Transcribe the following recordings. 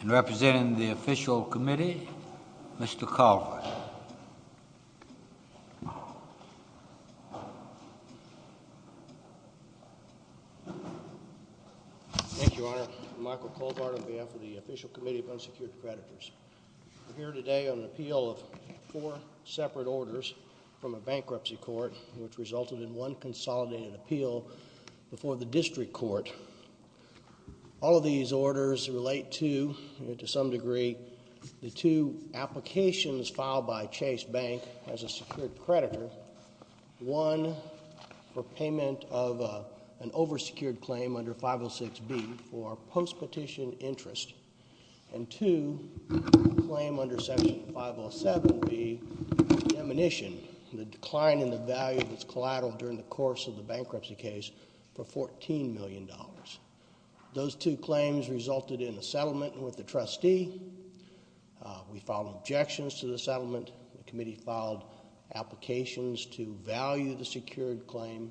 And representing the official committee, Mr. Colbert. Thank you, Your Honor. I'm Michael Colbert on behalf of the Official Committee of Unsecured Predators. We're here today on an appeal of four separate orders from a bankruptcy court, which resulted in one consolidated appeal before the district court. All of these orders relate to, to some degree, the two applications filed by Chase Bank as a secured creditor. One, for payment of an over-secured claim under 506B for post-petition interest. And two, a claim under section 507B for demonition, the decline in the value of its collateral during the course of the bankruptcy case for $14 million. Those two claims resulted in a settlement with the trustee. We filed objections to the settlement. The committee filed applications to value the secured claim.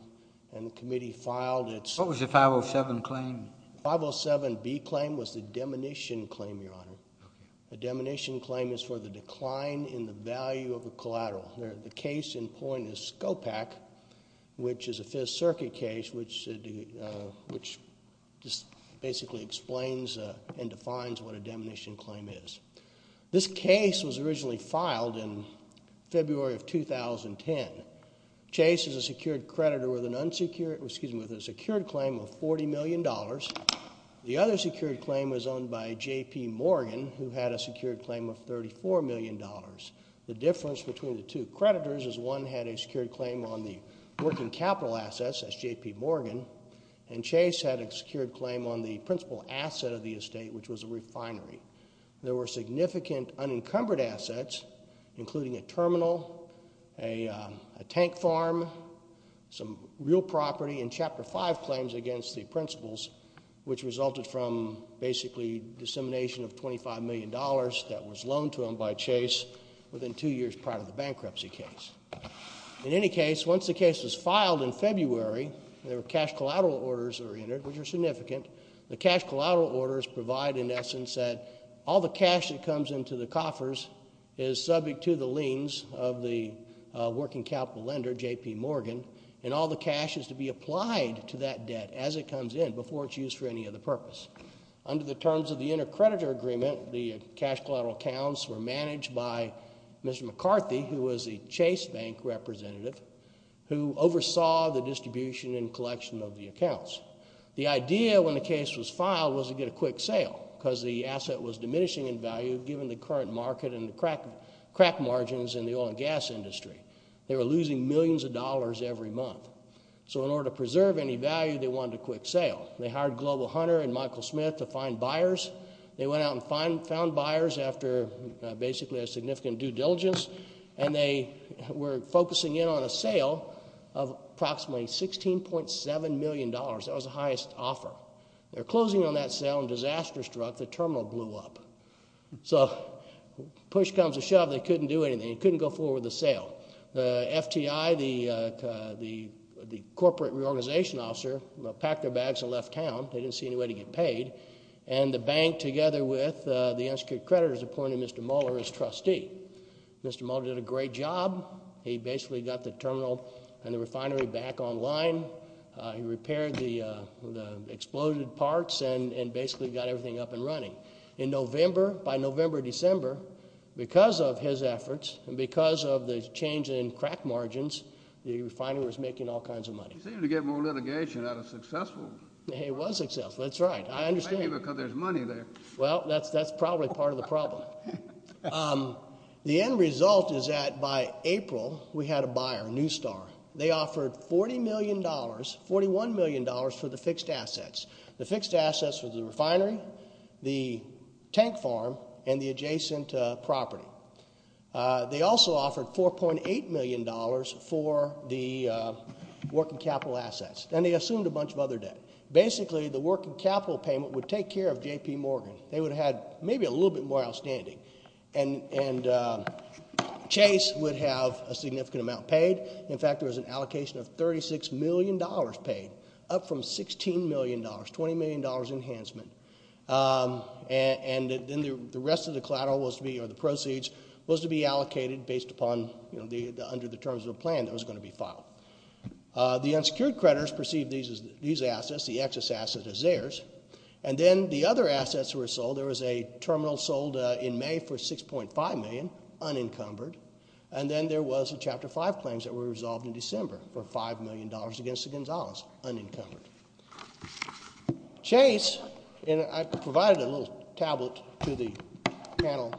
And the committee filed its... What was the 507 claim? The 507B claim was the demonition claim, Your Honor. The demonition claim is for the decline in the value of a collateral. The case in point is SCOPAC, which is a Fifth Circuit case, which basically explains and defines what a demonition claim is. This case was originally filed in February of 2010. Chase is a secured creditor with a secured claim of $40 million. The other secured claim was owned by J.P. Morgan, who had a secured claim of $34 million. The difference between the two creditors is one had a secured claim on the working capital assets, S.J.P. Morgan, and Chase had a secured claim on the principal asset of the estate, which was a refinery. There were significant unencumbered assets, including a terminal, a tank farm, some real property, and Chapter 5 claims against the principals, which resulted from basically dissemination of $25 million that was loaned to them by Chase within two years prior to the bankruptcy case. In any case, once the case was filed in February, there were cash collateral orders that were entered, which are significant. The cash collateral orders provide, in essence, that all the cash that comes into the coffers is subject to the liens of the working capital lender, J.P. Morgan, and all the cash is to be applied to that debt as it comes in before it's used for any other purpose. Under the terms of the intercreditor agreement, the cash collateral accounts were managed by Mr. McCarthy, who was the Chase bank representative, who oversaw the distribution and collection of the accounts. The idea when the case was filed was to get a quick sale because the asset was diminishing in value given the current market and the crack margins in the oil and gas industry. They were losing millions of dollars every month. So in order to preserve any value, they wanted a quick sale. They hired Global Hunter and Michael Smith to find buyers. They went out and found buyers after basically a significant due diligence, and they were focusing in on a sale of approximately $16.7 million. That was the highest offer. They were closing on that sale, and disaster struck. The terminal blew up. So push comes to shove. They couldn't do anything. They couldn't go forward with the sale. The FTI, the corporate reorganization officer, packed their bags and left town. They didn't see any way to get paid. And the bank, together with the intercreditors, appointed Mr. Mueller as trustee. Mr. Mueller did a great job. He basically got the terminal and the refinery back online. He repaired the exploded parts and basically got everything up and running. In November, by November, December, because of his efforts and because of the change in crack margins, the refinery was making all kinds of money. He seemed to get more litigation out of successful. He was successful. That's right. I understand. Maybe because there's money there. Well, that's probably part of the problem. The end result is that by April we had a buyer, New Star. They offered $40 million, $41 million for the fixed assets. The fixed assets were the refinery, the tank farm, and the adjacent property. They also offered $4.8 million for the working capital assets. Then they assumed a bunch of other debt. Basically, the working capital payment would take care of J.P. Morgan. They would have had maybe a little bit more outstanding. And Chase would have a significant amount paid. In fact, there was an allocation of $36 million paid, up from $16 million, $20 million enhancement. Then the rest of the collateral was to be, or the proceeds, was to be allocated under the terms of a plan that was going to be filed. The unsecured creditors perceived these assets, the excess assets, as theirs. Then the other assets were sold. There was a terminal sold in May for $6.5 million, unencumbered. Then there was the Chapter 5 claims that were resolved in December for $5 million against the Gonzalez, unencumbered. Chase, and I provided a little tablet to the panel,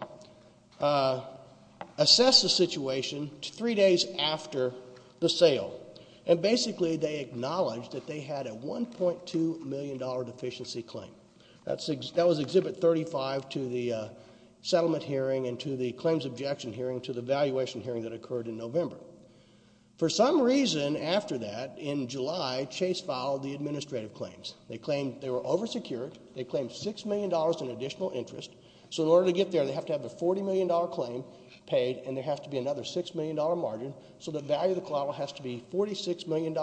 assessed the situation three days after the sale. Basically, they acknowledged that they had a $1.2 million deficiency claim. That was Exhibit 35 to the settlement hearing and to the claims objection hearing, to the valuation hearing that occurred in November. For some reason, after that, in July, Chase filed the administrative claims. They claimed they were oversecured. They claimed $6 million in additional interest. So in order to get there, they have to have a $40 million claim paid, and there has to be another $6 million margin. So the value of the collateral has to be $46 million.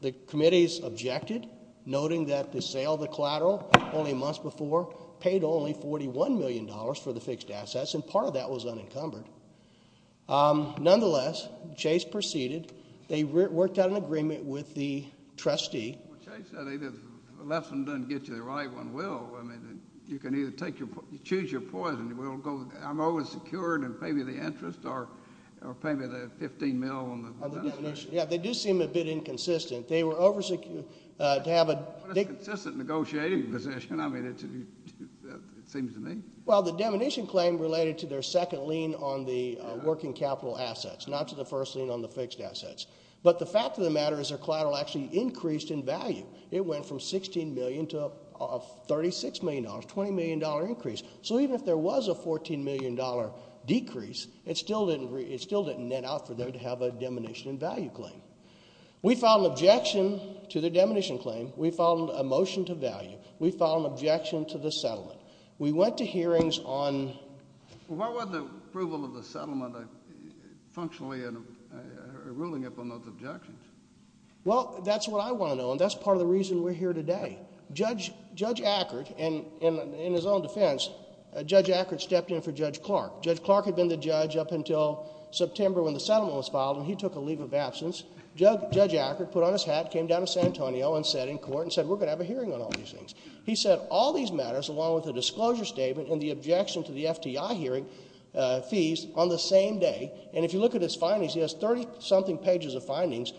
The committees objected, noting that the sale of the collateral only a month before paid only $41 million for the fixed assets, and part of that was unencumbered. Nonetheless, Chase proceeded. They worked out an agreement with the trustee. Well, Chase said if the left one doesn't get you, the right one will. I mean, you can either choose your poison. I'm oversecured and pay me the interest or pay me the 15 mil on the demonstration. Yeah, they do seem a bit inconsistent. They were oversecured to have a What is a consistent negotiating position? I mean, it seems to me. Well, the demonition claim related to their second lien on the working capital assets, not to the first lien on the fixed assets. But the fact of the matter is their collateral actually increased in value. It went from $16 million to $36 million, a $20 million increase. So even if there was a $14 million decrease, it still didn't net out for them to have a demonition in value claim. We filed an objection to the demonition claim. We filed a motion to value. We filed an objection to the settlement. We went to hearings on Why wasn't approval of the settlement functionally ruling up on those objections? Well, that's what I want to know, and that's part of the reason we're here today. Judge Ackert, and in his own defense, Judge Ackert stepped in for Judge Clark. Judge Clark had been the judge up until September when the settlement was filed, and he took a leave of absence. Judge Ackert put on his hat, came down to San Antonio and sat in court and said, We're going to have a hearing on all these things. He said all these matters, along with the disclosure statement and the objection to the FTI hearing fees, on the same day. And if you look at his findings, he has 30-something pages of findings.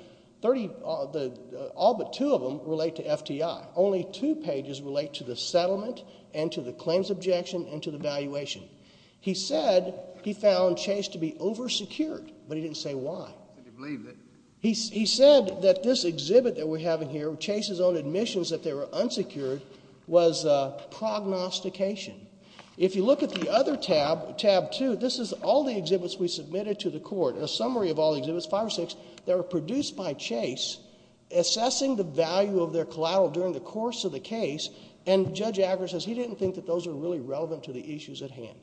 All but two of them relate to FTI. Only two pages relate to the settlement and to the claims objection and to the valuation. He said he found Chase to be over-secured, but he didn't say why. He said that this exhibit that we're having here, Chase's own admissions, that they were unsecured, was prognostication. If you look at the other tab, tab 2, this is all the exhibits we submitted to the court, a summary of all the exhibits, five or six, that were produced by Chase, assessing the value of their collateral during the course of the case. And Judge Ackert says he didn't think that those were really relevant to the issues at hand.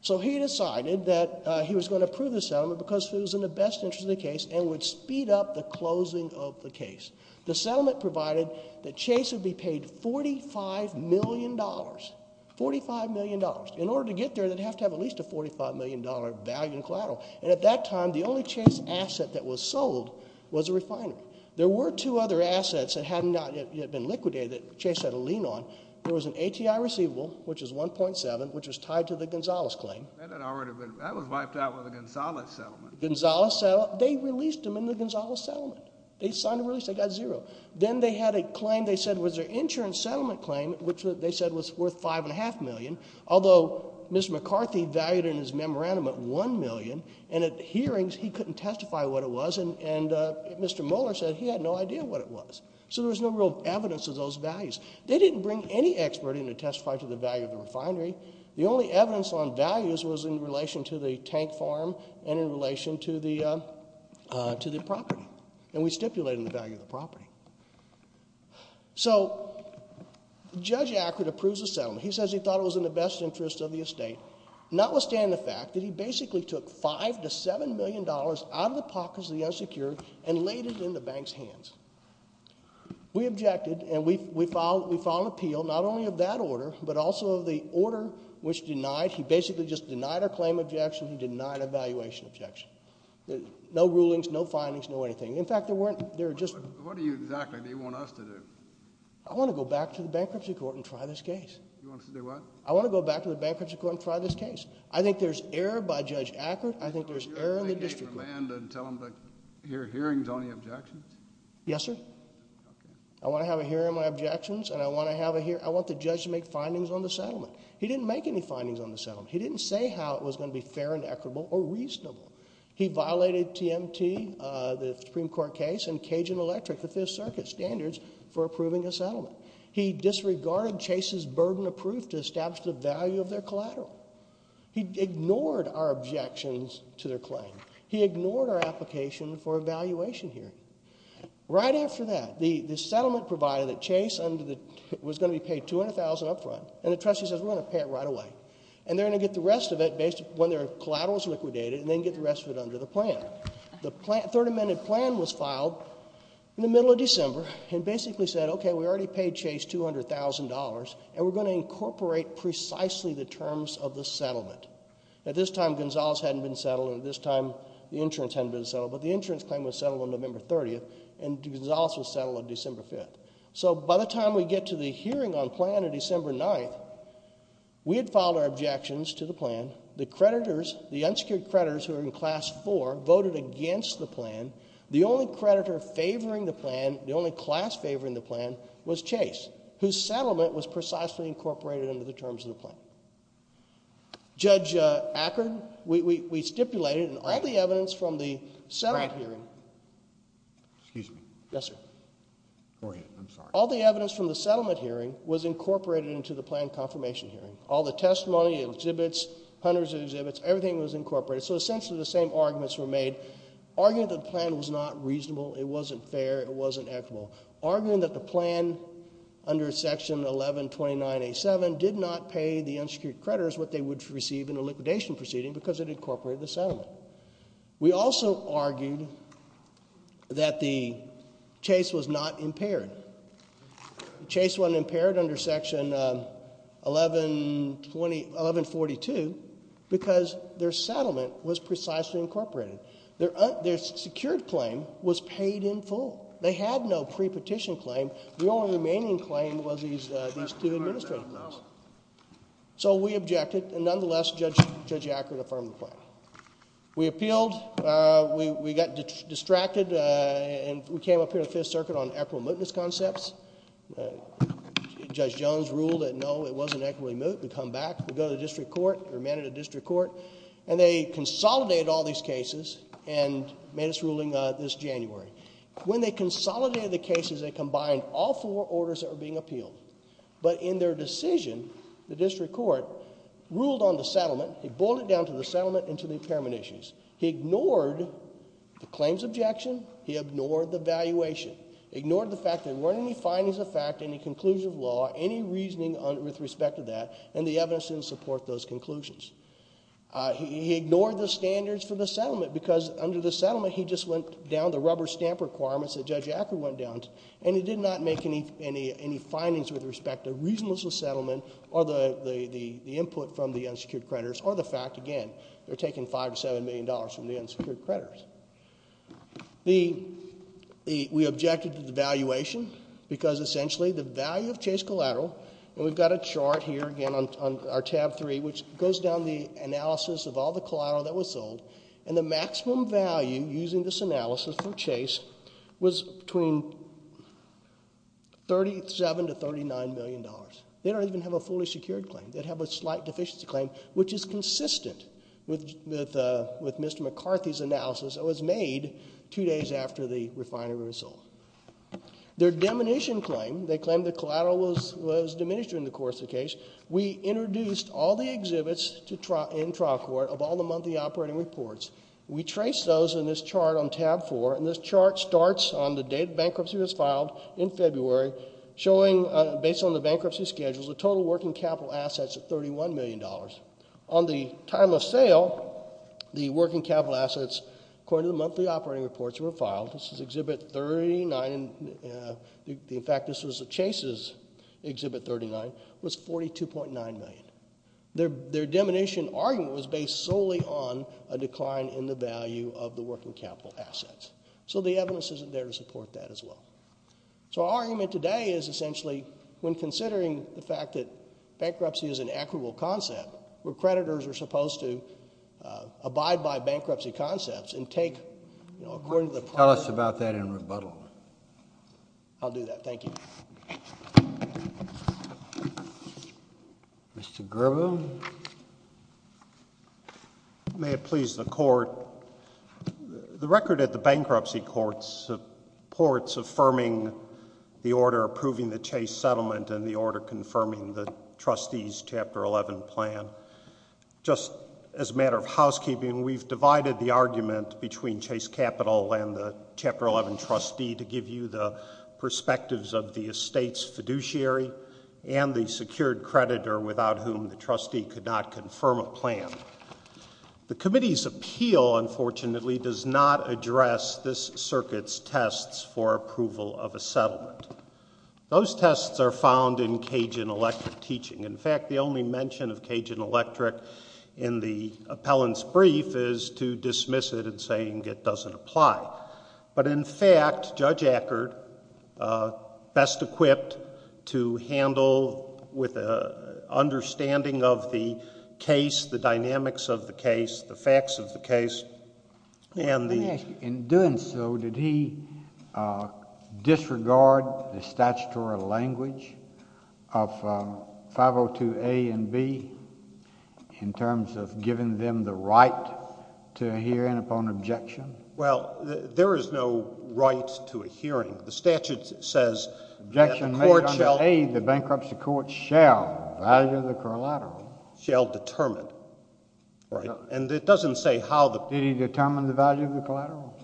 So he decided that he was going to approve the settlement because it was in the best interest of the case and would speed up the closing of the case. The settlement provided that Chase would be paid $45 million, $45 million. In order to get there, they'd have to have at least a $45 million value in collateral. And at that time, the only Chase asset that was sold was a refinery. There were two other assets that had not yet been liquidated that Chase had a lien on. There was an ATI receivable, which was 1.7, which was tied to the Gonzales claim. That had already been — that was wiped out with the Gonzales settlement. Gonzales settlement. They released them in the Gonzales settlement. They signed a release. They got zero. Then they had a claim they said was their insurance settlement claim, which they said was worth $5.5 million, although Mr. McCarthy valued it in his memorandum at $1 million. And at hearings, he couldn't testify what it was. And Mr. Moeller said he had no idea what it was. So there was no real evidence of those values. They didn't bring any expert in to testify to the value of the refinery. The only evidence on values was in relation to the tank farm and in relation to the property. And we stipulated the value of the property. So Judge Akrut approves the settlement. He says he thought it was in the best interest of the estate, notwithstanding the fact that he basically took $5 to $7 million out of the pockets of the unsecured and laid it in the bank's hands. We objected, and we filed an appeal, not only of that order, but also of the order which denied — he basically just denied our claim objection. He denied our valuation objection. No rulings, no findings, no anything. In fact, there weren't — What do you exactly want us to do? I want to go back to the bankruptcy court and try this case. You want us to do what? I want to go back to the bankruptcy court and try this case. I think there's error by Judge Akrut. I think there's error in the district court. You want us to take it to the land and tell them to hear hearings on the objections? Yes, sir. Okay. I want to have a hearing on objections, and I want to have a — I want the judge to make findings on the settlement. He didn't make any findings on the settlement. He didn't say how it was going to be fair and equitable or reasonable. He violated TMT, the Supreme Court case, and Cajun Electric, the Fifth Circuit standards, for approving a settlement. He disregarded Chase's burden of proof to establish the value of their collateral. He ignored our objections to their claim. He ignored our application for a valuation hearing. Right after that, the settlement provided that Chase was going to be paid $200,000 up front, and the trustee says we're going to pay it right away, and they're going to get the rest of it when their collateral is liquidated, and then get the rest of it under the plan. The third amended plan was filed in the middle of December and basically said, okay, we already paid Chase $200,000, and we're going to incorporate precisely the terms of the settlement. At this time, Gonzales hadn't been settled, and at this time, the insurance hadn't been settled, but the insurance claim was settled on November 30th, and Gonzales was settled on December 5th. So by the time we get to the hearing on plan on December 9th, we had filed our objections to the plan. The creditors, the unsecured creditors who are in Class 4, voted against the plan. The only creditor favoring the plan, the only class favoring the plan, was Chase, whose settlement was precisely incorporated under the terms of the plan. Judge Ackard, we stipulated in all the evidence from the settlement hearing. Excuse me. Yes, sir. Go ahead. I'm sorry. All the evidence from the settlement hearing was incorporated into the plan confirmation hearing. All the testimony, exhibits, hundreds of exhibits, everything was incorporated. So essentially the same arguments were made, arguing that the plan was not reasonable, it wasn't fair, it wasn't equitable, arguing that the plan under Section 1129A.7 did not pay the unsecured creditors what they would receive in a liquidation proceeding because it incorporated the settlement. We also argued that the Chase was not impaired. Chase wasn't impaired under Section 1142 because their settlement was precisely incorporated. Their secured claim was paid in full. They had no pre-petition claim. The only remaining claim was these two administrative claims. So we objected, and nonetheless Judge Ackard affirmed the plan. We appealed. We got distracted, and we came up here to the Fifth Circuit on equitable mootness concepts. Judge Jones ruled that, no, it wasn't equitably moot. We come back. We go to the district court, or manage the district court, and they consolidated all these cases and made us ruling this January. When they consolidated the cases, they combined all four orders that were being appealed. But in their decision, the district court ruled on the settlement. He boiled it down to the settlement and to the impairment issues. He ignored the claims objection. He ignored the valuation. He ignored the fact there weren't any findings of fact, any conclusion of law, any reasoning with respect to that, and the evidence didn't support those conclusions. He ignored the standards for the settlement because under the settlement, he just went down the rubber stamp requirements that Judge Ackard went down, and he did not make any findings with respect to reasonableness of settlement or the input from the unsecured creditors, or the fact, again, they're taking $5 million to $7 million from the unsecured creditors. We objected to the valuation because, essentially, the value of Chase Collateral, and we've got a chart here, again, on our tab three, which goes down the analysis of all the collateral that was sold, and the maximum value, using this analysis for Chase, was between $37 to $39 million. They don't even have a fully secured claim. They have a slight deficiency claim, which is consistent with Mr. McCarthy's analysis that was made two days after the refinery was sold. Their diminution claim, they claimed the collateral was diminished during the course of the case. We introduced all the exhibits in trial court of all the monthly operating reports. We traced those in this chart on tab four, and this chart starts on the date bankruptcy was filed in February, showing, based on the bankruptcy schedules, the total working capital assets of $31 million. On the time of sale, the working capital assets, according to the monthly operating reports, were filed. This is Exhibit 39. In fact, this was Chase's Exhibit 39. It was $42.9 million. Their diminution argument was based solely on a decline in the value of the working capital assets. So the evidence isn't there to support that as well. So our argument today is, essentially, when considering the fact that bankruptcy is an equitable concept, recreditors are supposed to abide by bankruptcy concepts and take, you know, according to the process. Tell us about that in rebuttal. I'll do that. Thank you. Mr. Gerbo. May it please the Court, the record at the bankruptcy court supports affirming the order approving the Chase settlement and the order confirming the trustee's Chapter 11 plan. Just as a matter of housekeeping, we've divided the argument between Chase Capital and the Chapter 11 trustee to give you the perspectives of the estate's fiduciary and the secured creditor, without whom the trustee could not confirm a plan. The committee's appeal, unfortunately, does not address this circuit's tests for approval of a settlement. Those tests are found in Cajun Electric teaching. In fact, the only mention of Cajun Electric in the appellant's brief is to dismiss it and saying it doesn't apply. But in fact, Judge Eckert, best equipped to handle with an understanding of the case, the dynamics of the case, the facts of the case, and the...... the statutory language of 502A and B in terms of giving them the right to a hearing upon objection. Well, there is no right to a hearing. The statute says that the court shall... Objection made under A, the bankruptcy court shall value the collateral. Shall determine, right? And it doesn't say how the... Did he determine the value of the collateral?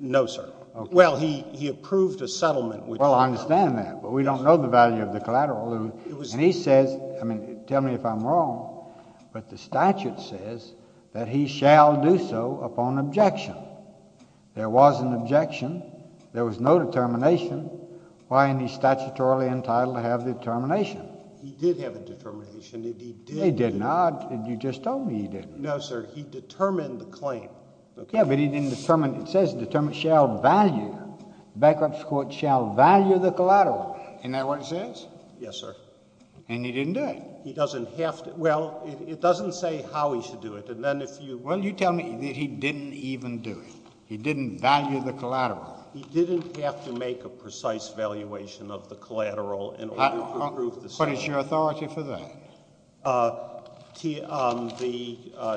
No, sir. Okay. Well, he approved a settlement which... Well, I understand that, but we don't know the value of the collateral. And he says... I mean, tell me if I'm wrong, but the statute says that he shall do so upon objection. There was an objection. There was no determination. Why isn't he statutorily entitled to have determination? He did have a determination. He did. He did not. You just told me he didn't. No, sir. He determined the claim. Okay. Yeah, but he didn't determine... it says determine shall value... bankruptcy court shall value the collateral. Isn't that what it says? Yes, sir. And he didn't do it. He doesn't have to... well, it doesn't say how he should do it. And then if you... Well, you tell me that he didn't even do it. He didn't value the collateral. He didn't have to make a precise valuation of the collateral in order to approve the settlement. What is your authority for that? The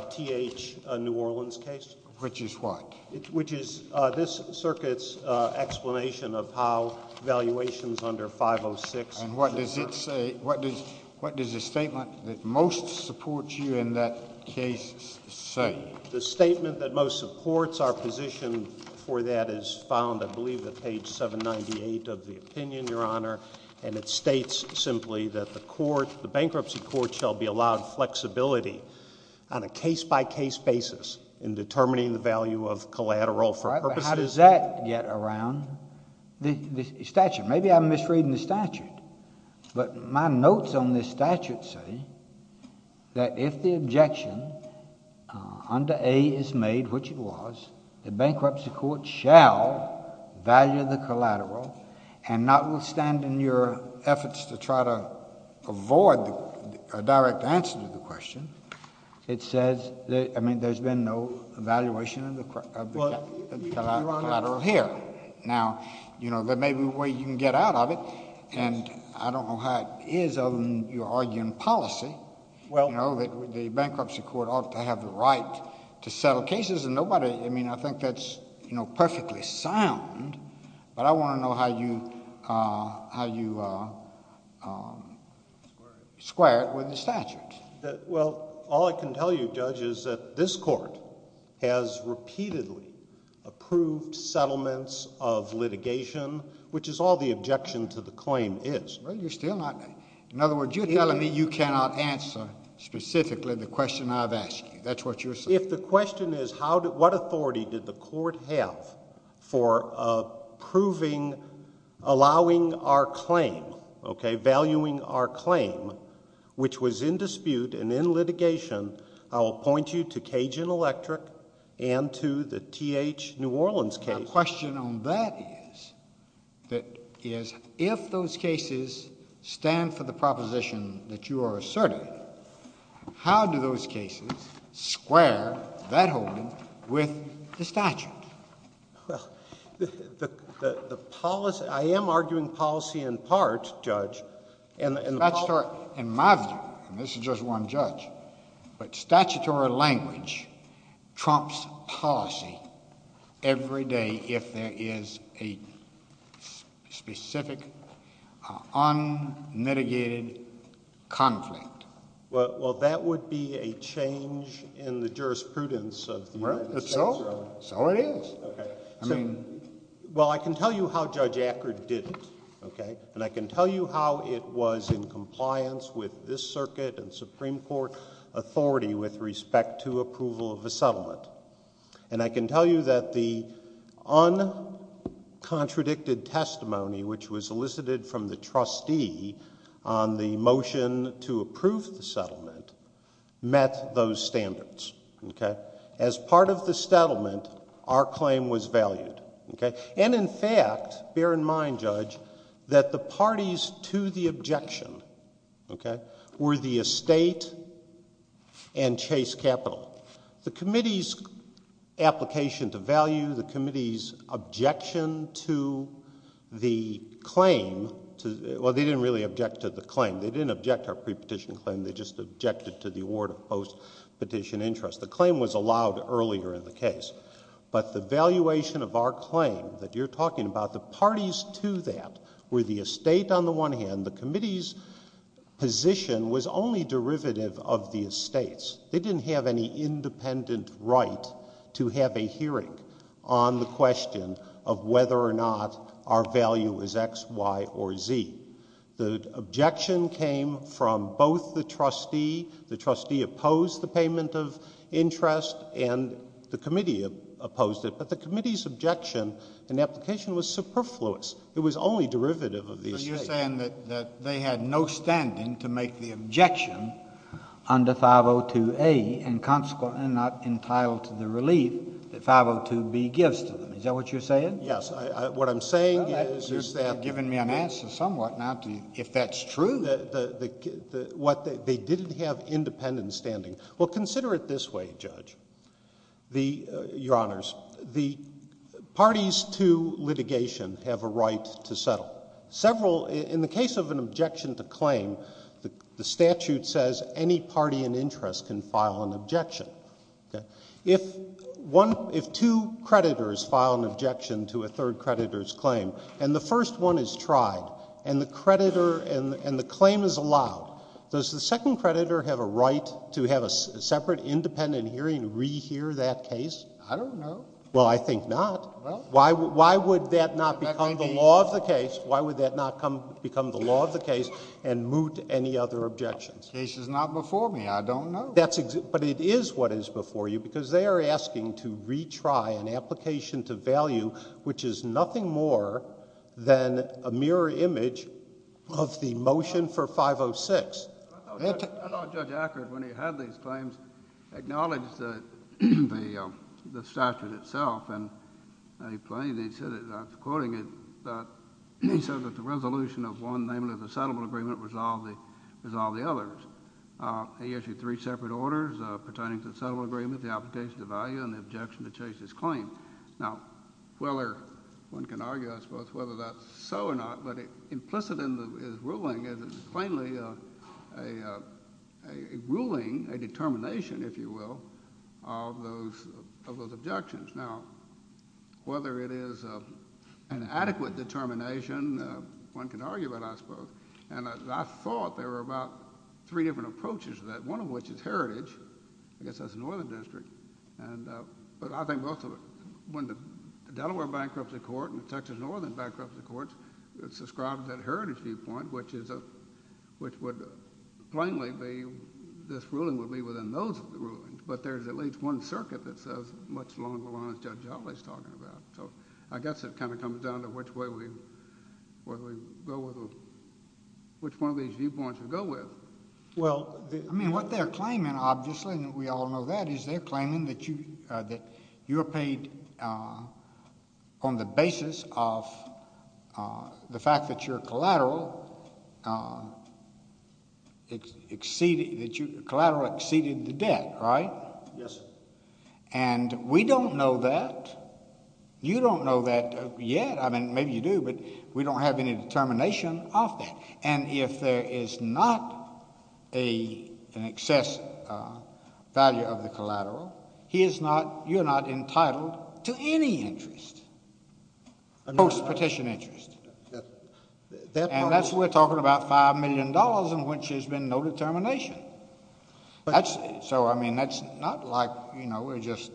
T.H. New Orleans case. Which is what? Which is this circuit's explanation of how valuations under 506... And what does it say? What does the statement that most supports you in that case say? The statement that most supports our position for that is found, I believe, at page 798 of the opinion, Your Honor. And it states simply that the bankruptcy court shall be allowed flexibility on a case-by-case basis in determining the value of collateral for purposes... All right, but how does that get around the statute? Maybe I'm misreading the statute. But my notes on this statute say that if the objection under A is made, which it was, the bankruptcy court shall value the collateral and notwithstanding your efforts to try to avoid a direct answer to the question, it says... I mean, there's been no valuation of the collateral here. Now, you know, there may be a way you can get out of it, and I don't know how it is, other than you're arguing policy. Well... You know, the bankruptcy court ought to have the right to settle cases, and nobody... I mean, I think that's, you know, perfectly sound, but I want to know how you square it with the statute. Well, all I can tell you, Judge, is that this Court has repeatedly approved settlements of litigation, which is all the objection to the claim is. Well, you're still not... In other words, you're telling me you cannot answer specifically the question I've asked you. That's what you're saying. If the question is what authority did the Court have for approving, allowing our claim, okay, valuing our claim, which was in dispute and in litigation, I will point you to Cajun Electric and to the T.H. New Orleans case. The question on that is, that is, if those cases stand for the proposition that you are asserting, how do those cases square that whole with the statute? Well, the policy... I am arguing policy in part, Judge. In my view, and this is just one judge, but statutory language trumps policy every day if there is a specific, unmitigated conflict. Well, that would be a change in the jurisprudence of the United States. Right. So it is. Well, I can tell you how Judge Acker did it, and I can tell you how it was in compliance with this circuit and Supreme Court authority with respect to approval of a settlement. And I can tell you that the uncontradicted testimony, which was elicited from the trustee on the motion to approve the settlement, met those standards. As part of the settlement, our claim was valued. And in fact, bear in mind, Judge, that the parties to the objection were the estate and Chase Capital. The Committee's application to value, the Committee's objection to the claim... well, they didn't really object to the claim. They didn't object to our pre-petition claim. They just objected to the award of post-petition interest. The claim was allowed earlier in the case. But the valuation of our claim that you are talking about, the parties to that were the estate on the one hand. The Committee's position was only derivative of the estate's. They didn't have any independent right to have a hearing on the question of whether or not our value was X, Y, or Z. The objection came from both the trustee. The trustee opposed the payment of interest, and the Committee opposed it. But the Committee's objection in the application was superfluous. It was only derivative of the estate. But you're saying that they had no standing to make the objection under 502A and consequently not entitled to the relief that 502B gives to them. Is that what you're saying? Yes. What I'm saying is... You're giving me an answer somewhat now to if that's true. They didn't have independent standing. Well, consider it this way, Judge, Your Honors. The parties to litigation have a right to settle. In the case of an objection to claim, the statute says any party in interest can file an objection. If two creditors file an objection to a third creditor's claim, and the first one is tried, and the claim is allowed, does the second creditor have a right to have a separate independent hearing to rehear that case? I don't know. Well, I think not. Why would that not become the law of the case? Why would that not become the law of the case and moot any other objections? The case is not before me. I don't know. But it is what is before you because they are asking to retry an application to value which is nothing more than a mirror image of the motion for 506. I know Judge Ackard, when he had these claims, acknowledged the statute itself. And he claimed, I'm quoting it, that he said that the resolution of one, namely the settlement agreement, resolved the others. He issued three separate orders pertaining to the settlement agreement, the application to value, and the objection to chase this claim. Now, whether one can argue, I suppose, whether that's so or not, but implicit in his ruling is plainly a ruling, a determination, if you will, of those objections. Now, whether it is an adequate determination, one can argue it, I suppose. And I thought there were about three different approaches to that, one of which is heritage. I guess that's the Northern District. But I think most of it, when the Delaware Bankruptcy Court and the Texas Northern Bankruptcy Courts described that heritage viewpoint, which would plainly be this ruling would be within those rulings. But there's at least one circuit that says much longer lines Judge Ackard is talking about. So I guess it kind of comes down to which way we go with them, which one of these viewpoints we go with. Well, I mean what they're claiming, obviously, and we all know that, is they're claiming that you are paid on the basis of the fact that your collateral exceeded the debt, right? Yes, sir. And we don't know that. You don't know that yet. I mean, maybe you do, but we don't have any determination of that. And if there is not an excess value of the collateral, you're not entitled to any interest, post-petition interest. And that's where we're talking about $5 million in which there's been no determination. So, I mean, that's not like, you know, we're just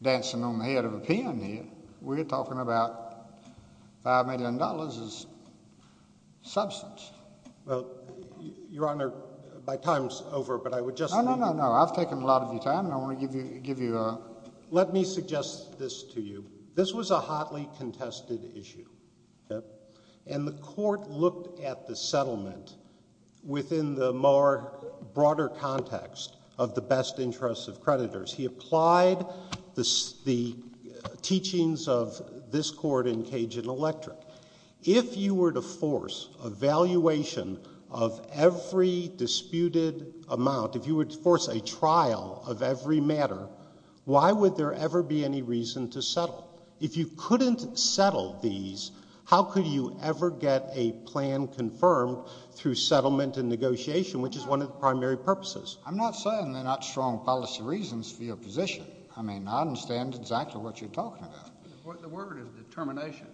dancing on the head of a pin here. We're talking about $5 million as substance. Well, Your Honor, my time's over, but I would just like to— No, no, no, no. I've taken a lot of your time, and I want to give you a— Let me suggest this to you. This was a hotly contested issue. And the court looked at the settlement within the more broader context of the best interests of creditors. He applied the teachings of this court in Cajun Electric. If you were to force a valuation of every disputed amount, if you would force a trial of every matter, why would there ever be any reason to settle? If you couldn't settle these, how could you ever get a plan confirmed through settlement and negotiation, which is one of the primary purposes? I'm not saying there are not strong policy reasons for your position. I mean, I understand exactly what you're talking about. The word is determination.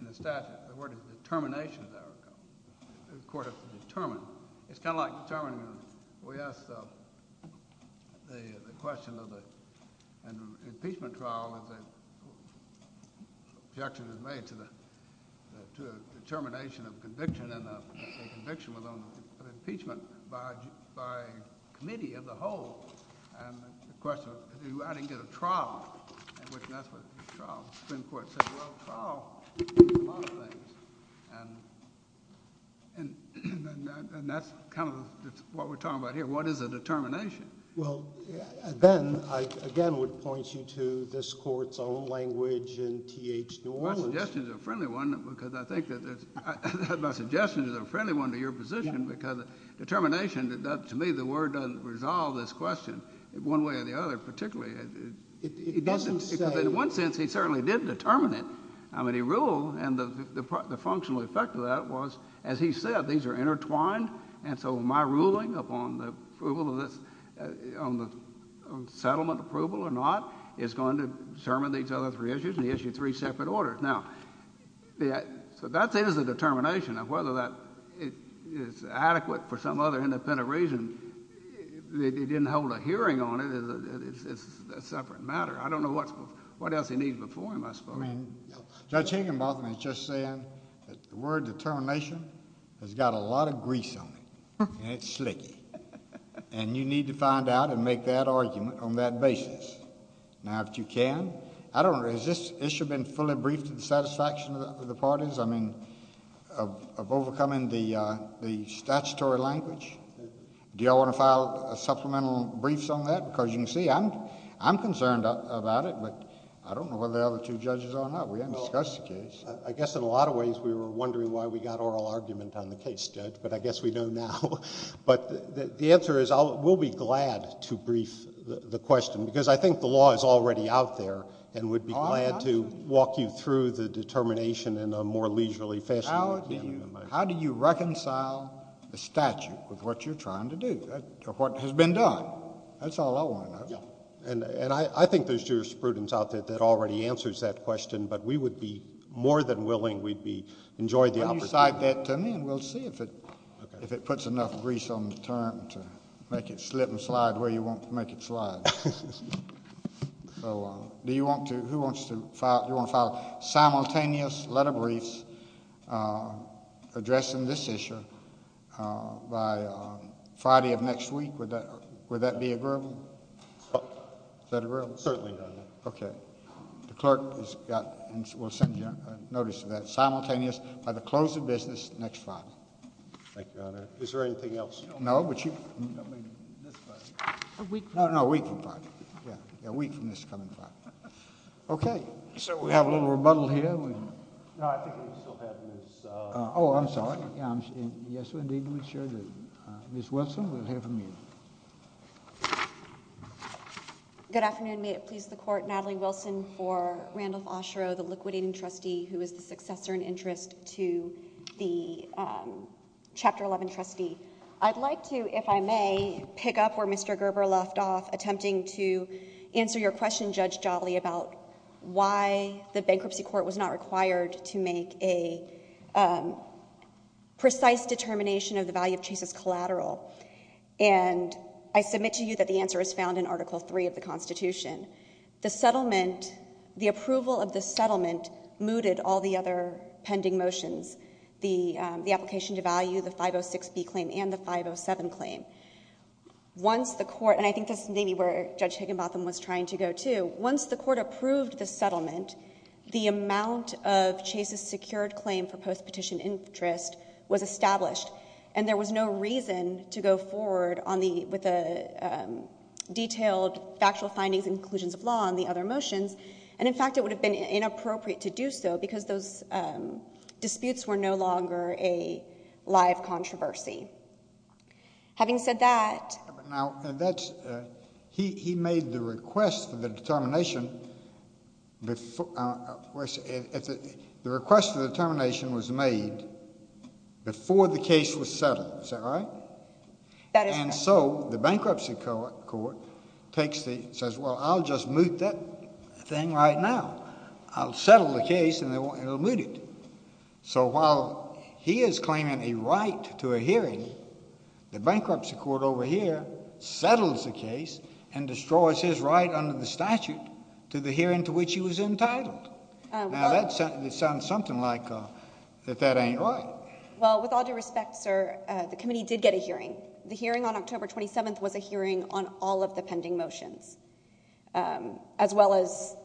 In the statute, the word is determination, as I recall. The court has to determine. It's kind of like determining a— The question of the impeachment trial is that the objection is made to the determination of conviction, and the conviction was on impeachment by a committee of the whole. And the question is, I didn't get a trial. And that's what the trial is. The Supreme Court said, well, trial is a lot of things. And that's kind of what we're talking about here. What is a determination? Well, Ben, I again would point you to this court's own language in T.H. New Orleans. My suggestion is a friendly one because I think that it's—my suggestion is a friendly one to your position because determination, to me, the word doesn't resolve this question one way or the other, particularly. It doesn't say— As he said, these are intertwined, and so my ruling upon the approval of this—on the settlement approval or not is going to determine these other three issues, and he issued three separate orders. Now, so that is a determination of whether that is adequate for some other independent reason. If he didn't hold a hearing on it, it's a separate matter. I don't know what else he needs before him, I suppose. Well, I mean, Judge Higginbotham is just saying that the word determination has got a lot of grease on it, and it's slicky. And you need to find out and make that argument on that basis. Now, if you can, I don't—has this issue been fully briefed to the satisfaction of the parties, I mean, of overcoming the statutory language? Do you all want to file supplemental briefs on that? Because you can see I'm concerned about it, but I don't know whether the other two judges are or not. We haven't discussed the case. I guess in a lot of ways we were wondering why we got oral argument on the case, Judge, but I guess we know now. But the answer is we'll be glad to brief the question because I think the law is already out there and we'd be glad to walk you through the determination in a more leisurely fashion. How do you reconcile the statute with what you're trying to do or what has been done? Well, that's all I want to know. And I think there's jurisprudence out there that already answers that question, but we would be more than willing—we'd be—enjoy the opportunity. Can you cite that to me and we'll see if it puts enough grease on the term to make it slip and slide where you want to make it slide. So do you want to—who wants to file—do you want to file simultaneous letter briefs addressing this issue by Friday of next week? Would that be agreeable? Is that agreeable? Certainly, Your Honor. Okay. The clerk has got—will send you a notice of that. Simultaneous by the close of business next Friday. Thank you, Your Honor. Is there anything else? No, but you— A week from Friday. No, no, a week from Friday. Yeah, a week from this coming Friday. Okay. So we have a little rebuttal here. No, I think we still have Ms.— Oh, I'm sorry. Yes, we do. Ms. Wilson, we'll hear from you. Good afternoon. May it please the Court. Natalie Wilson for Randolph-Osherow, the liquidating trustee who is the successor in interest to the Chapter 11 trustee. I'd like to, if I may, pick up where Mr. Gerber left off, attempting to answer your question, Judge Jolly, about why the bankruptcy court was not required to make a precise determination of the value of Chase's collateral. And I submit to you that the answer is found in Article III of the Constitution. The settlement—the approval of the settlement mooted all the other pending motions. The application to value, the 506B claim, and the 507 claim. Once the Court—and I think this is maybe where Judge Higginbotham was trying to go to— once the Court approved the settlement, the amount of Chase's secured claim for post-petition interest was established. And there was no reason to go forward with the detailed factual findings and conclusions of law on the other motions. And, in fact, it would have been inappropriate to do so because those disputes were no longer a live controversy. Having said that— Now, that's—he made the request for the determination—the request for the determination was made before the case was settled. That is correct. And so the bankruptcy court takes the—says, well, I'll just moot that thing right now. I'll settle the case and it'll be mooted. So while he is claiming a right to a hearing, the bankruptcy court over here settles the case and destroys his right under the statute to the hearing to which he was entitled. Now, that sounds something like that that ain't right. Well, with all due respect, sir, the committee did get a hearing. The hearing on October 27th was a hearing on all of the pending motions, as well as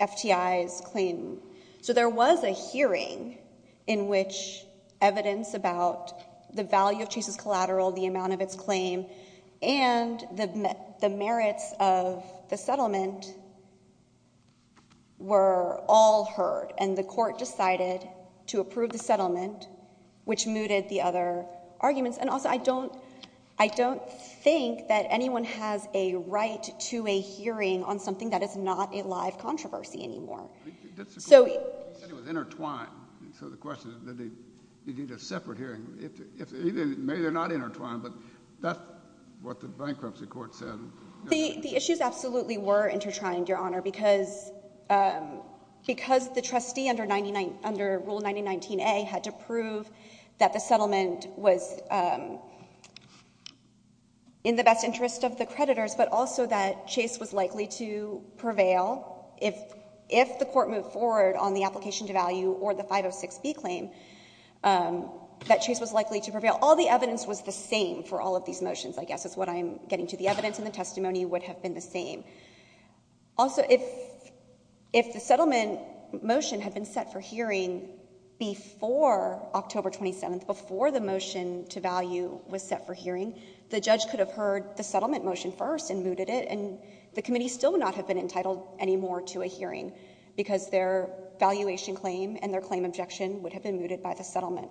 FTI's claim. So there was a hearing in which evidence about the value of Chase's collateral, the amount of its claim, and the merits of the settlement were all heard. And the Court decided to approve the settlement, which mooted the other arguments. And also, I don't—I don't think that anyone has a right to a hearing on something that is not a live controversy anymore. So— He said it was intertwined. So the question is that they need a separate hearing. Maybe they're not intertwined, but that's what the bankruptcy court said. The issues absolutely were intertwined, Your Honor, because the trustee under Rule 9019A had to prove that the settlement was in the best interest of the creditors, but also that Chase was likely to prevail if the Court moved forward on the application to value or the 506B claim, that Chase was likely to prevail. All the evidence was the same for all of these motions, I guess, is what I'm getting to. The evidence and the testimony would have been the same. Also, if the settlement motion had been set for hearing before October 27th, before the motion to value was set for hearing, the judge could have heard the settlement motion first and mooted it, and the committee still would not have been entitled anymore to a hearing because their valuation claim and their claim objection would have been mooted by the settlement.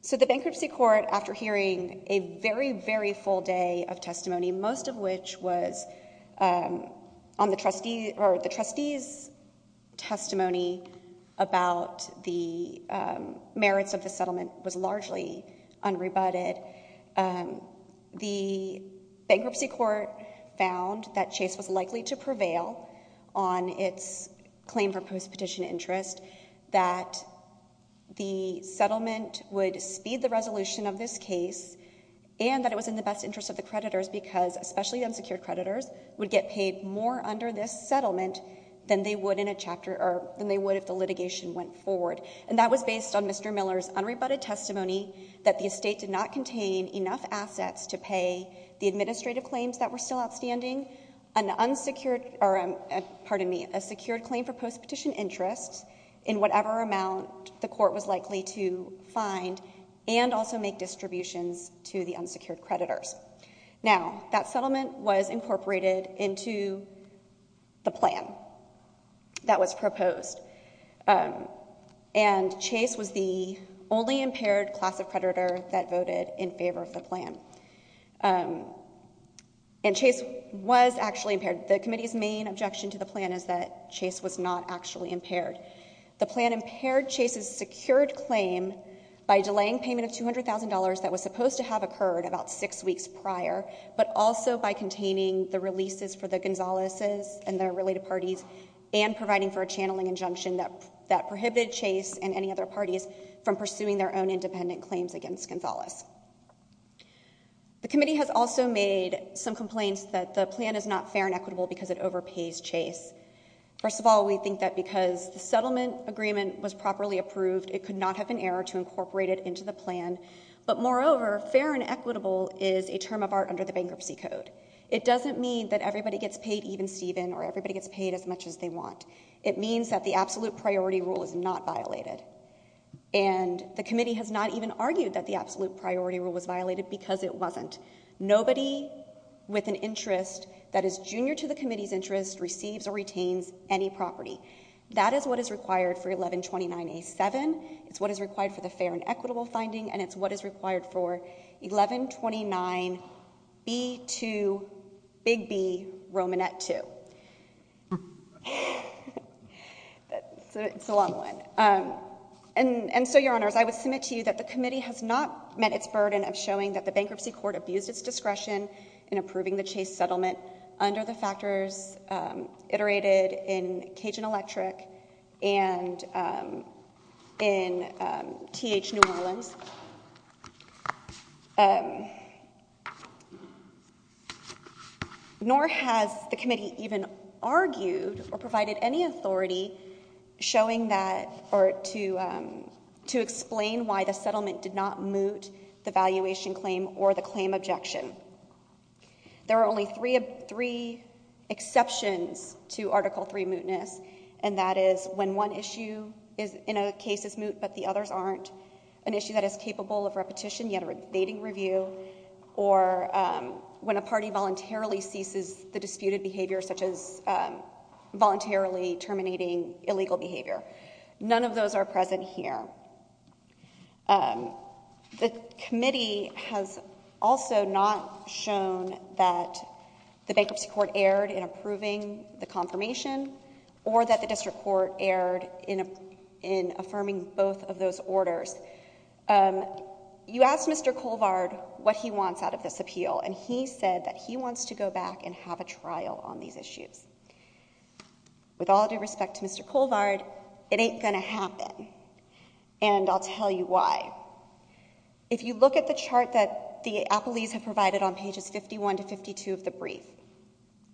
So the bankruptcy court, after hearing a very, very full day of testimony, most of which was on the trustee's testimony about the merits of the settlement, was largely unrebutted. The bankruptcy court found that Chase was likely to prevail on its claim for post-petition interest. That the settlement would speed the resolution of this case, and that it was in the best interest of the creditors, because especially unsecured creditors would get paid more under this settlement than they would if the litigation went forward. And that was based on Mr. Miller's unrebutted testimony that the estate did not contain enough assets to pay the administrative claims that were still outstanding, pardon me, a secured claim for post-petition interest in whatever amount the court was likely to find and also make distributions to the unsecured creditors. Now, that settlement was incorporated into the plan that was proposed. And Chase was the only impaired class of creditor that voted in favor of the plan. And Chase was actually impaired. The committee's main objection to the plan is that Chase was not actually impaired. The plan impaired Chase's secured claim by delaying payment of $200,000 that was supposed to have occurred about six weeks prior, but also by containing the releases for the Gonzaleses and their related parties and providing for a channeling injunction that prohibited Chase and any other parties from pursuing their own independent claims against Gonzales. The committee has also made some complaints that the plan is not fair and equitable because it overpays Chase. First of all, we think that because the settlement agreement was properly approved, it could not have been errored to incorporate it into the plan. But moreover, fair and equitable is a term of art under the Bankruptcy Code. It doesn't mean that everybody gets paid even Steven or everybody gets paid as much as they want. It means that the absolute priority rule is not violated. And the committee has not even argued that the absolute priority rule was violated because it wasn't. Nobody with an interest that is junior to the committee's interest receives or retains any property. That is what is required for 1129A.7. It's what is required for the fair and equitable finding, and it's what is required for 1129B.2.B.B. Romanet II. That's a long one. And so, Your Honors, I would submit to you that the committee has not met its burden of showing that the Bankruptcy Court abused its discretion in approving the Chase settlement under the factors iterated in Cajun Electric and in T.H. New Orleans, nor has the committee even argued or provided any authority showing that or to explain why the settlement did not moot the valuation claim or the claim objection. There are only three exceptions to Article III mootness, and that is when one issue in a case is moot but the others aren't, an issue that is capable of repetition, yet a debating review, or when a party voluntarily ceases the disputed behavior, such as voluntarily terminating illegal behavior. None of those are present here. The committee has also not shown that the Bankruptcy Court erred in approving the confirmation or that the District Court erred in affirming both of those orders. You asked Mr. Colvard what he wants out of this appeal, and he said that he wants to go back and have a trial on these issues. With all due respect to Mr. Colvard, it ain't going to happen. And I'll tell you why. If you look at the chart that the appellees have provided on pages 51 to 52 of the brief,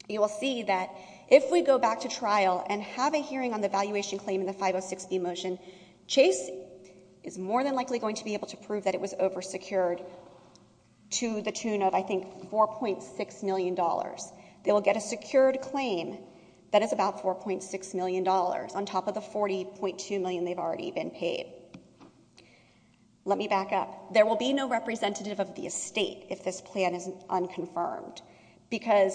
you will see that if we go back to trial and have a hearing on the valuation claim in the 506B motion, Chase is more than likely going to be able to prove that it was oversecured to the tune of, I think, $4.6 million. They will get a secured claim that is about $4.6 million on top of the $40.2 million they've already been paid. Let me back up. There will be no representative of the estate if this plan is unconfirmed because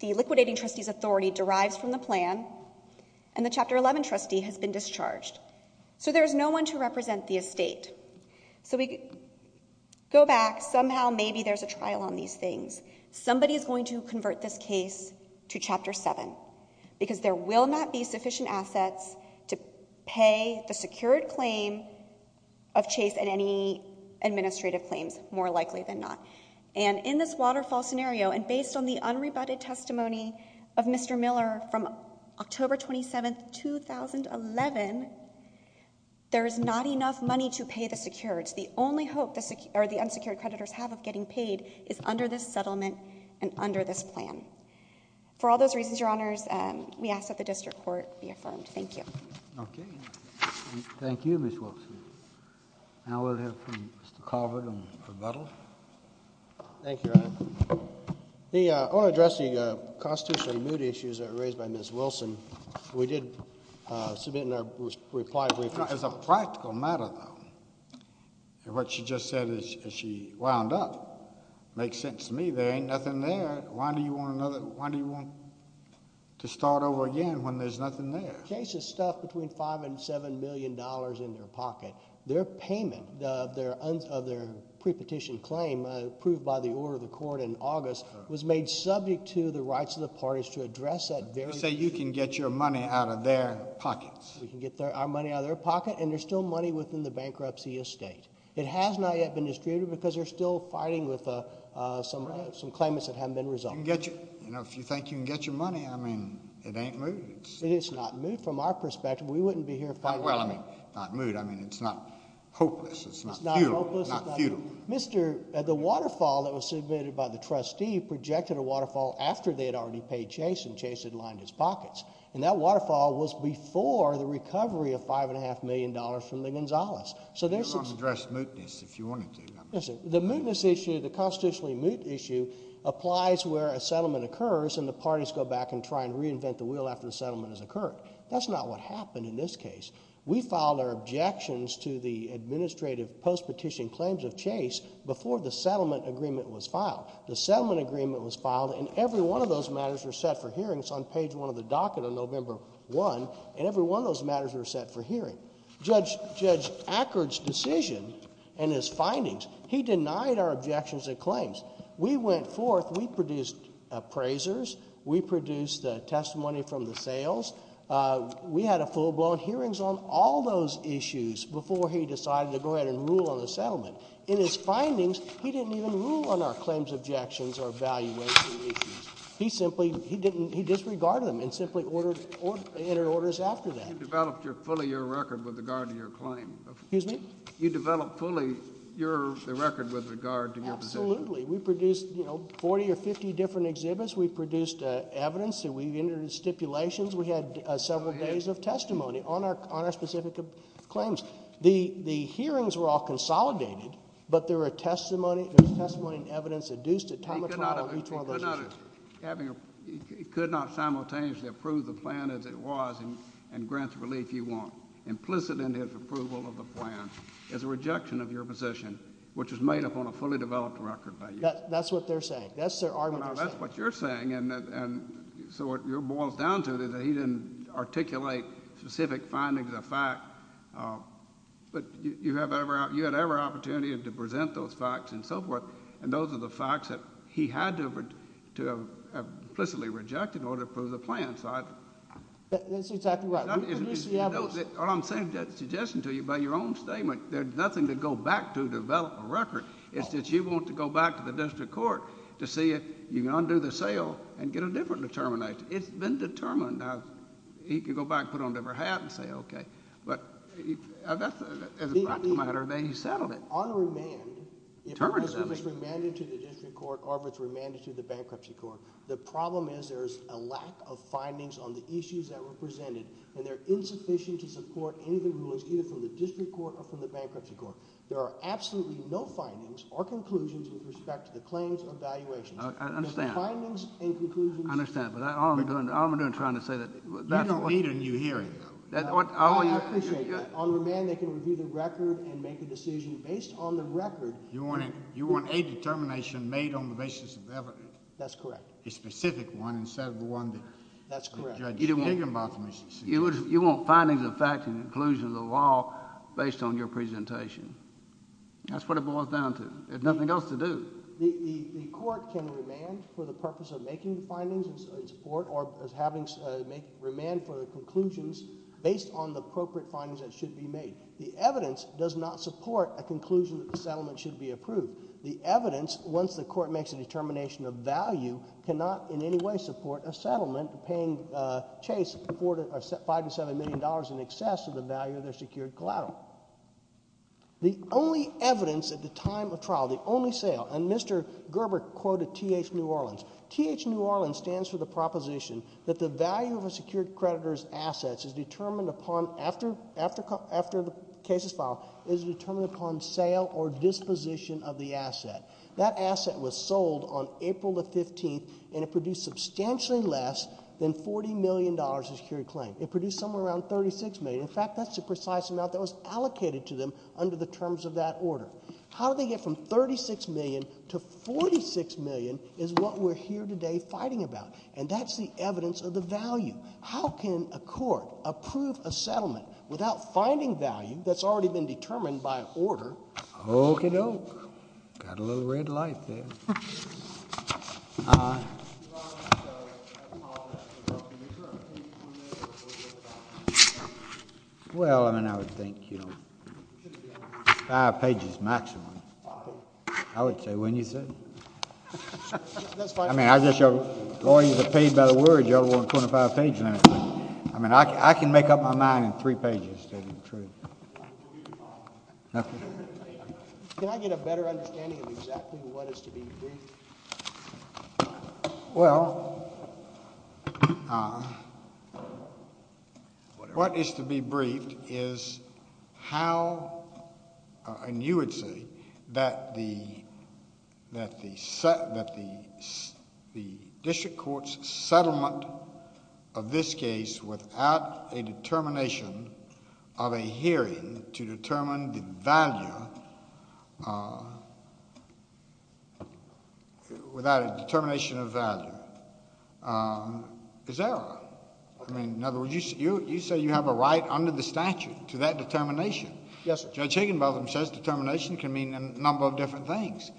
the liquidating trustee's authority derives from the plan, and the Chapter 11 trustee has been discharged. So there's no one to represent the estate. So we go back. Somehow, maybe there's a trial on these things. Somebody is going to convert this case to Chapter 7 because there will not be sufficient assets to pay the secured claim of Chase and any administrative claims, more likely than not. And in this waterfall scenario, and based on the unrebutted testimony of Mr. Miller from October 27, 2011, there is not enough money to pay the secureds. The only hope the unsecured creditors have of getting paid is under this settlement and under this plan. For all those reasons, Your Honors, we ask that the district court be affirmed. Thank you. Okay. Thank you, Ms. Wilkson. Now we'll hear from Mr. Carver to rebuttal. Thank you, Your Honor. I want to address the constitutional immunity issues that were raised by Ms. Wilson. We did submit in our reply brief. As a practical matter, though, what she just said as she wound up makes sense to me. There ain't nothing there. Why do you want to start over again when there's nothing there? Chase has stuffed between $5 million and $7 million in their pocket. Their payment of their prepetition claim approved by the order of the court in August was made subject to the rights of the parties to address that very issue. So you can get your money out of their pockets. We can get our money out of their pocket, and there's still money within the bankruptcy estate. It has not yet been distributed because they're still fighting with some claimants that haven't been resolved. If you think you can get your money, I mean, it ain't moot. It is not moot from our perspective. We wouldn't be here fighting. Well, I mean, not moot. I mean, it's not hopeless. It's not futile. It's not hopeless. It's not futile. The waterfall that was submitted by the trustee projected a waterfall after they had already paid Chase, and Chase had lined his pockets. And that waterfall was before the recovery of $5.5 million from the Gonzalez. You could also address mootness if you wanted to. The mootness issue, the constitutionally moot issue, applies where a settlement occurs and the parties go back and try and reinvent the wheel after the settlement has occurred. That's not what happened in this case. We filed our objections to the administrative post-petition claims of Chase before the settlement agreement was filed. The settlement agreement was filed, and every one of those matters were set for hearings on page 1 of the docket on November 1, and every one of those matters were set for hearing. Judge Ackard's decision and his findings, he denied our objections and claims. We went forth. We produced appraisers. We produced the testimony from the sales. We had a full-blown hearings on all those issues before he decided to go ahead and rule on the settlement. In his findings, he didn't even rule on our claims objections or valuation issues. He simply, he disregarded them and simply entered orders after that. You developed fully your record with regard to your claim. Excuse me? You developed fully your record with regard to your position. Absolutely. We produced, you know, 40 or 50 different exhibits. We produced evidence. We introduced stipulations. We had several days of testimony on our specific claims. The hearings were all consolidated, but there was testimony and evidence adduced at time of trial on each one of those issues. He could not simultaneously approve the plan as it was and grant the relief you want. Implicit in his approval of the plan is a rejection of your position, which is made up on a fully developed record by you. That's what they're saying. That's their argument they're saying. That's what you're saying, and so what it boils down to is that he didn't articulate specific findings of fact, but you had every opportunity to present those facts and so forth, and those are the facts that he had to have implicitly rejected in order to approve the plan. That's exactly right. We produced the evidence. What I'm suggesting to you, by your own statement, there's nothing to go back to develop a record. It's that you want to go back to the district court to see if you can undo the sale and get a different determination. It's been determined. Now, he could go back and put on a different hat and say, okay. But as a practical matter, they settled it. On remand, it was remanded to the district court or it was remanded to the bankruptcy court. The problem is there's a lack of findings on the issues that were presented, and they're insufficient to support any of the rulings either from the district court or from the bankruptcy court. There are absolutely no findings or conclusions with respect to the claims or valuations. I understand. The findings and conclusions. I understand, but all I'm doing is trying to say that that's needed in your hearing. I appreciate that. On remand, they can review the record and make a decision based on the record. You want a determination made on the basis of evidence. That's correct. A specific one instead of the one that the judge gave him about the misdeeds. You want findings of fact and conclusions of law based on your presentation. That's what it boils down to. There's nothing else to do. The court can remand for the purpose of making findings in support or remand for the conclusions based on the appropriate findings that should be made. The evidence does not support a conclusion that the settlement should be approved. The evidence, once the court makes a determination of value, cannot in any way support a settlement paying Chase $5 to $7 million in excess of the value of their secured collateral. The only evidence at the time of trial, the only sale, and Mr. Gerber quoted T.H. New Orleans. T.H. New Orleans stands for the proposition that the value of a secured creditor's assets is determined upon, after the case is filed, is determined upon sale or disposition of the asset. That asset was sold on April the 15th, and it produced substantially less than $40 million of secured claim. It produced somewhere around $36 million. In fact, that's the precise amount that was allocated to them under the terms of that order. How did they get from $36 million to $46 million is what we're here today fighting about, and that's the evidence of the value. How can a court approve a settlement without finding value that's already been determined by order? Okie doke. Got a little red light there. Well, I mean, I would think, you know, five pages maximum. I would say, wouldn't you, sir? I mean, I guess your lawyers are paid by the word. You ought to want a 25-page limit. I mean, I can make up my mind in three pages to be true. Can I get a better understanding of exactly what is to be briefed? Well, what is to be briefed is how, and you would say, that the district court's settlement of this case without a determination of a hearing to determine the value, without a determination of value, is error. I mean, in other words, you say you have a right under the statute to that determination. Yes, sir. Judge Higginbotham says determination can mean a number of different things.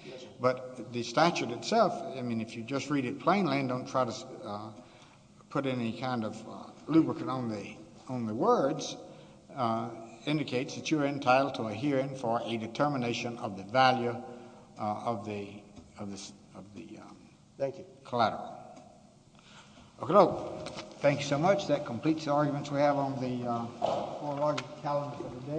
But the statute itself, I mean, if you just read it plainly and don't try to put any kind of lubricant on the words, indicates that you are entitled to a hearing for a determination of the value of the collateral. Okie doke. Thank you so much. That completes the arguments we have on the four-argument calendar for the day.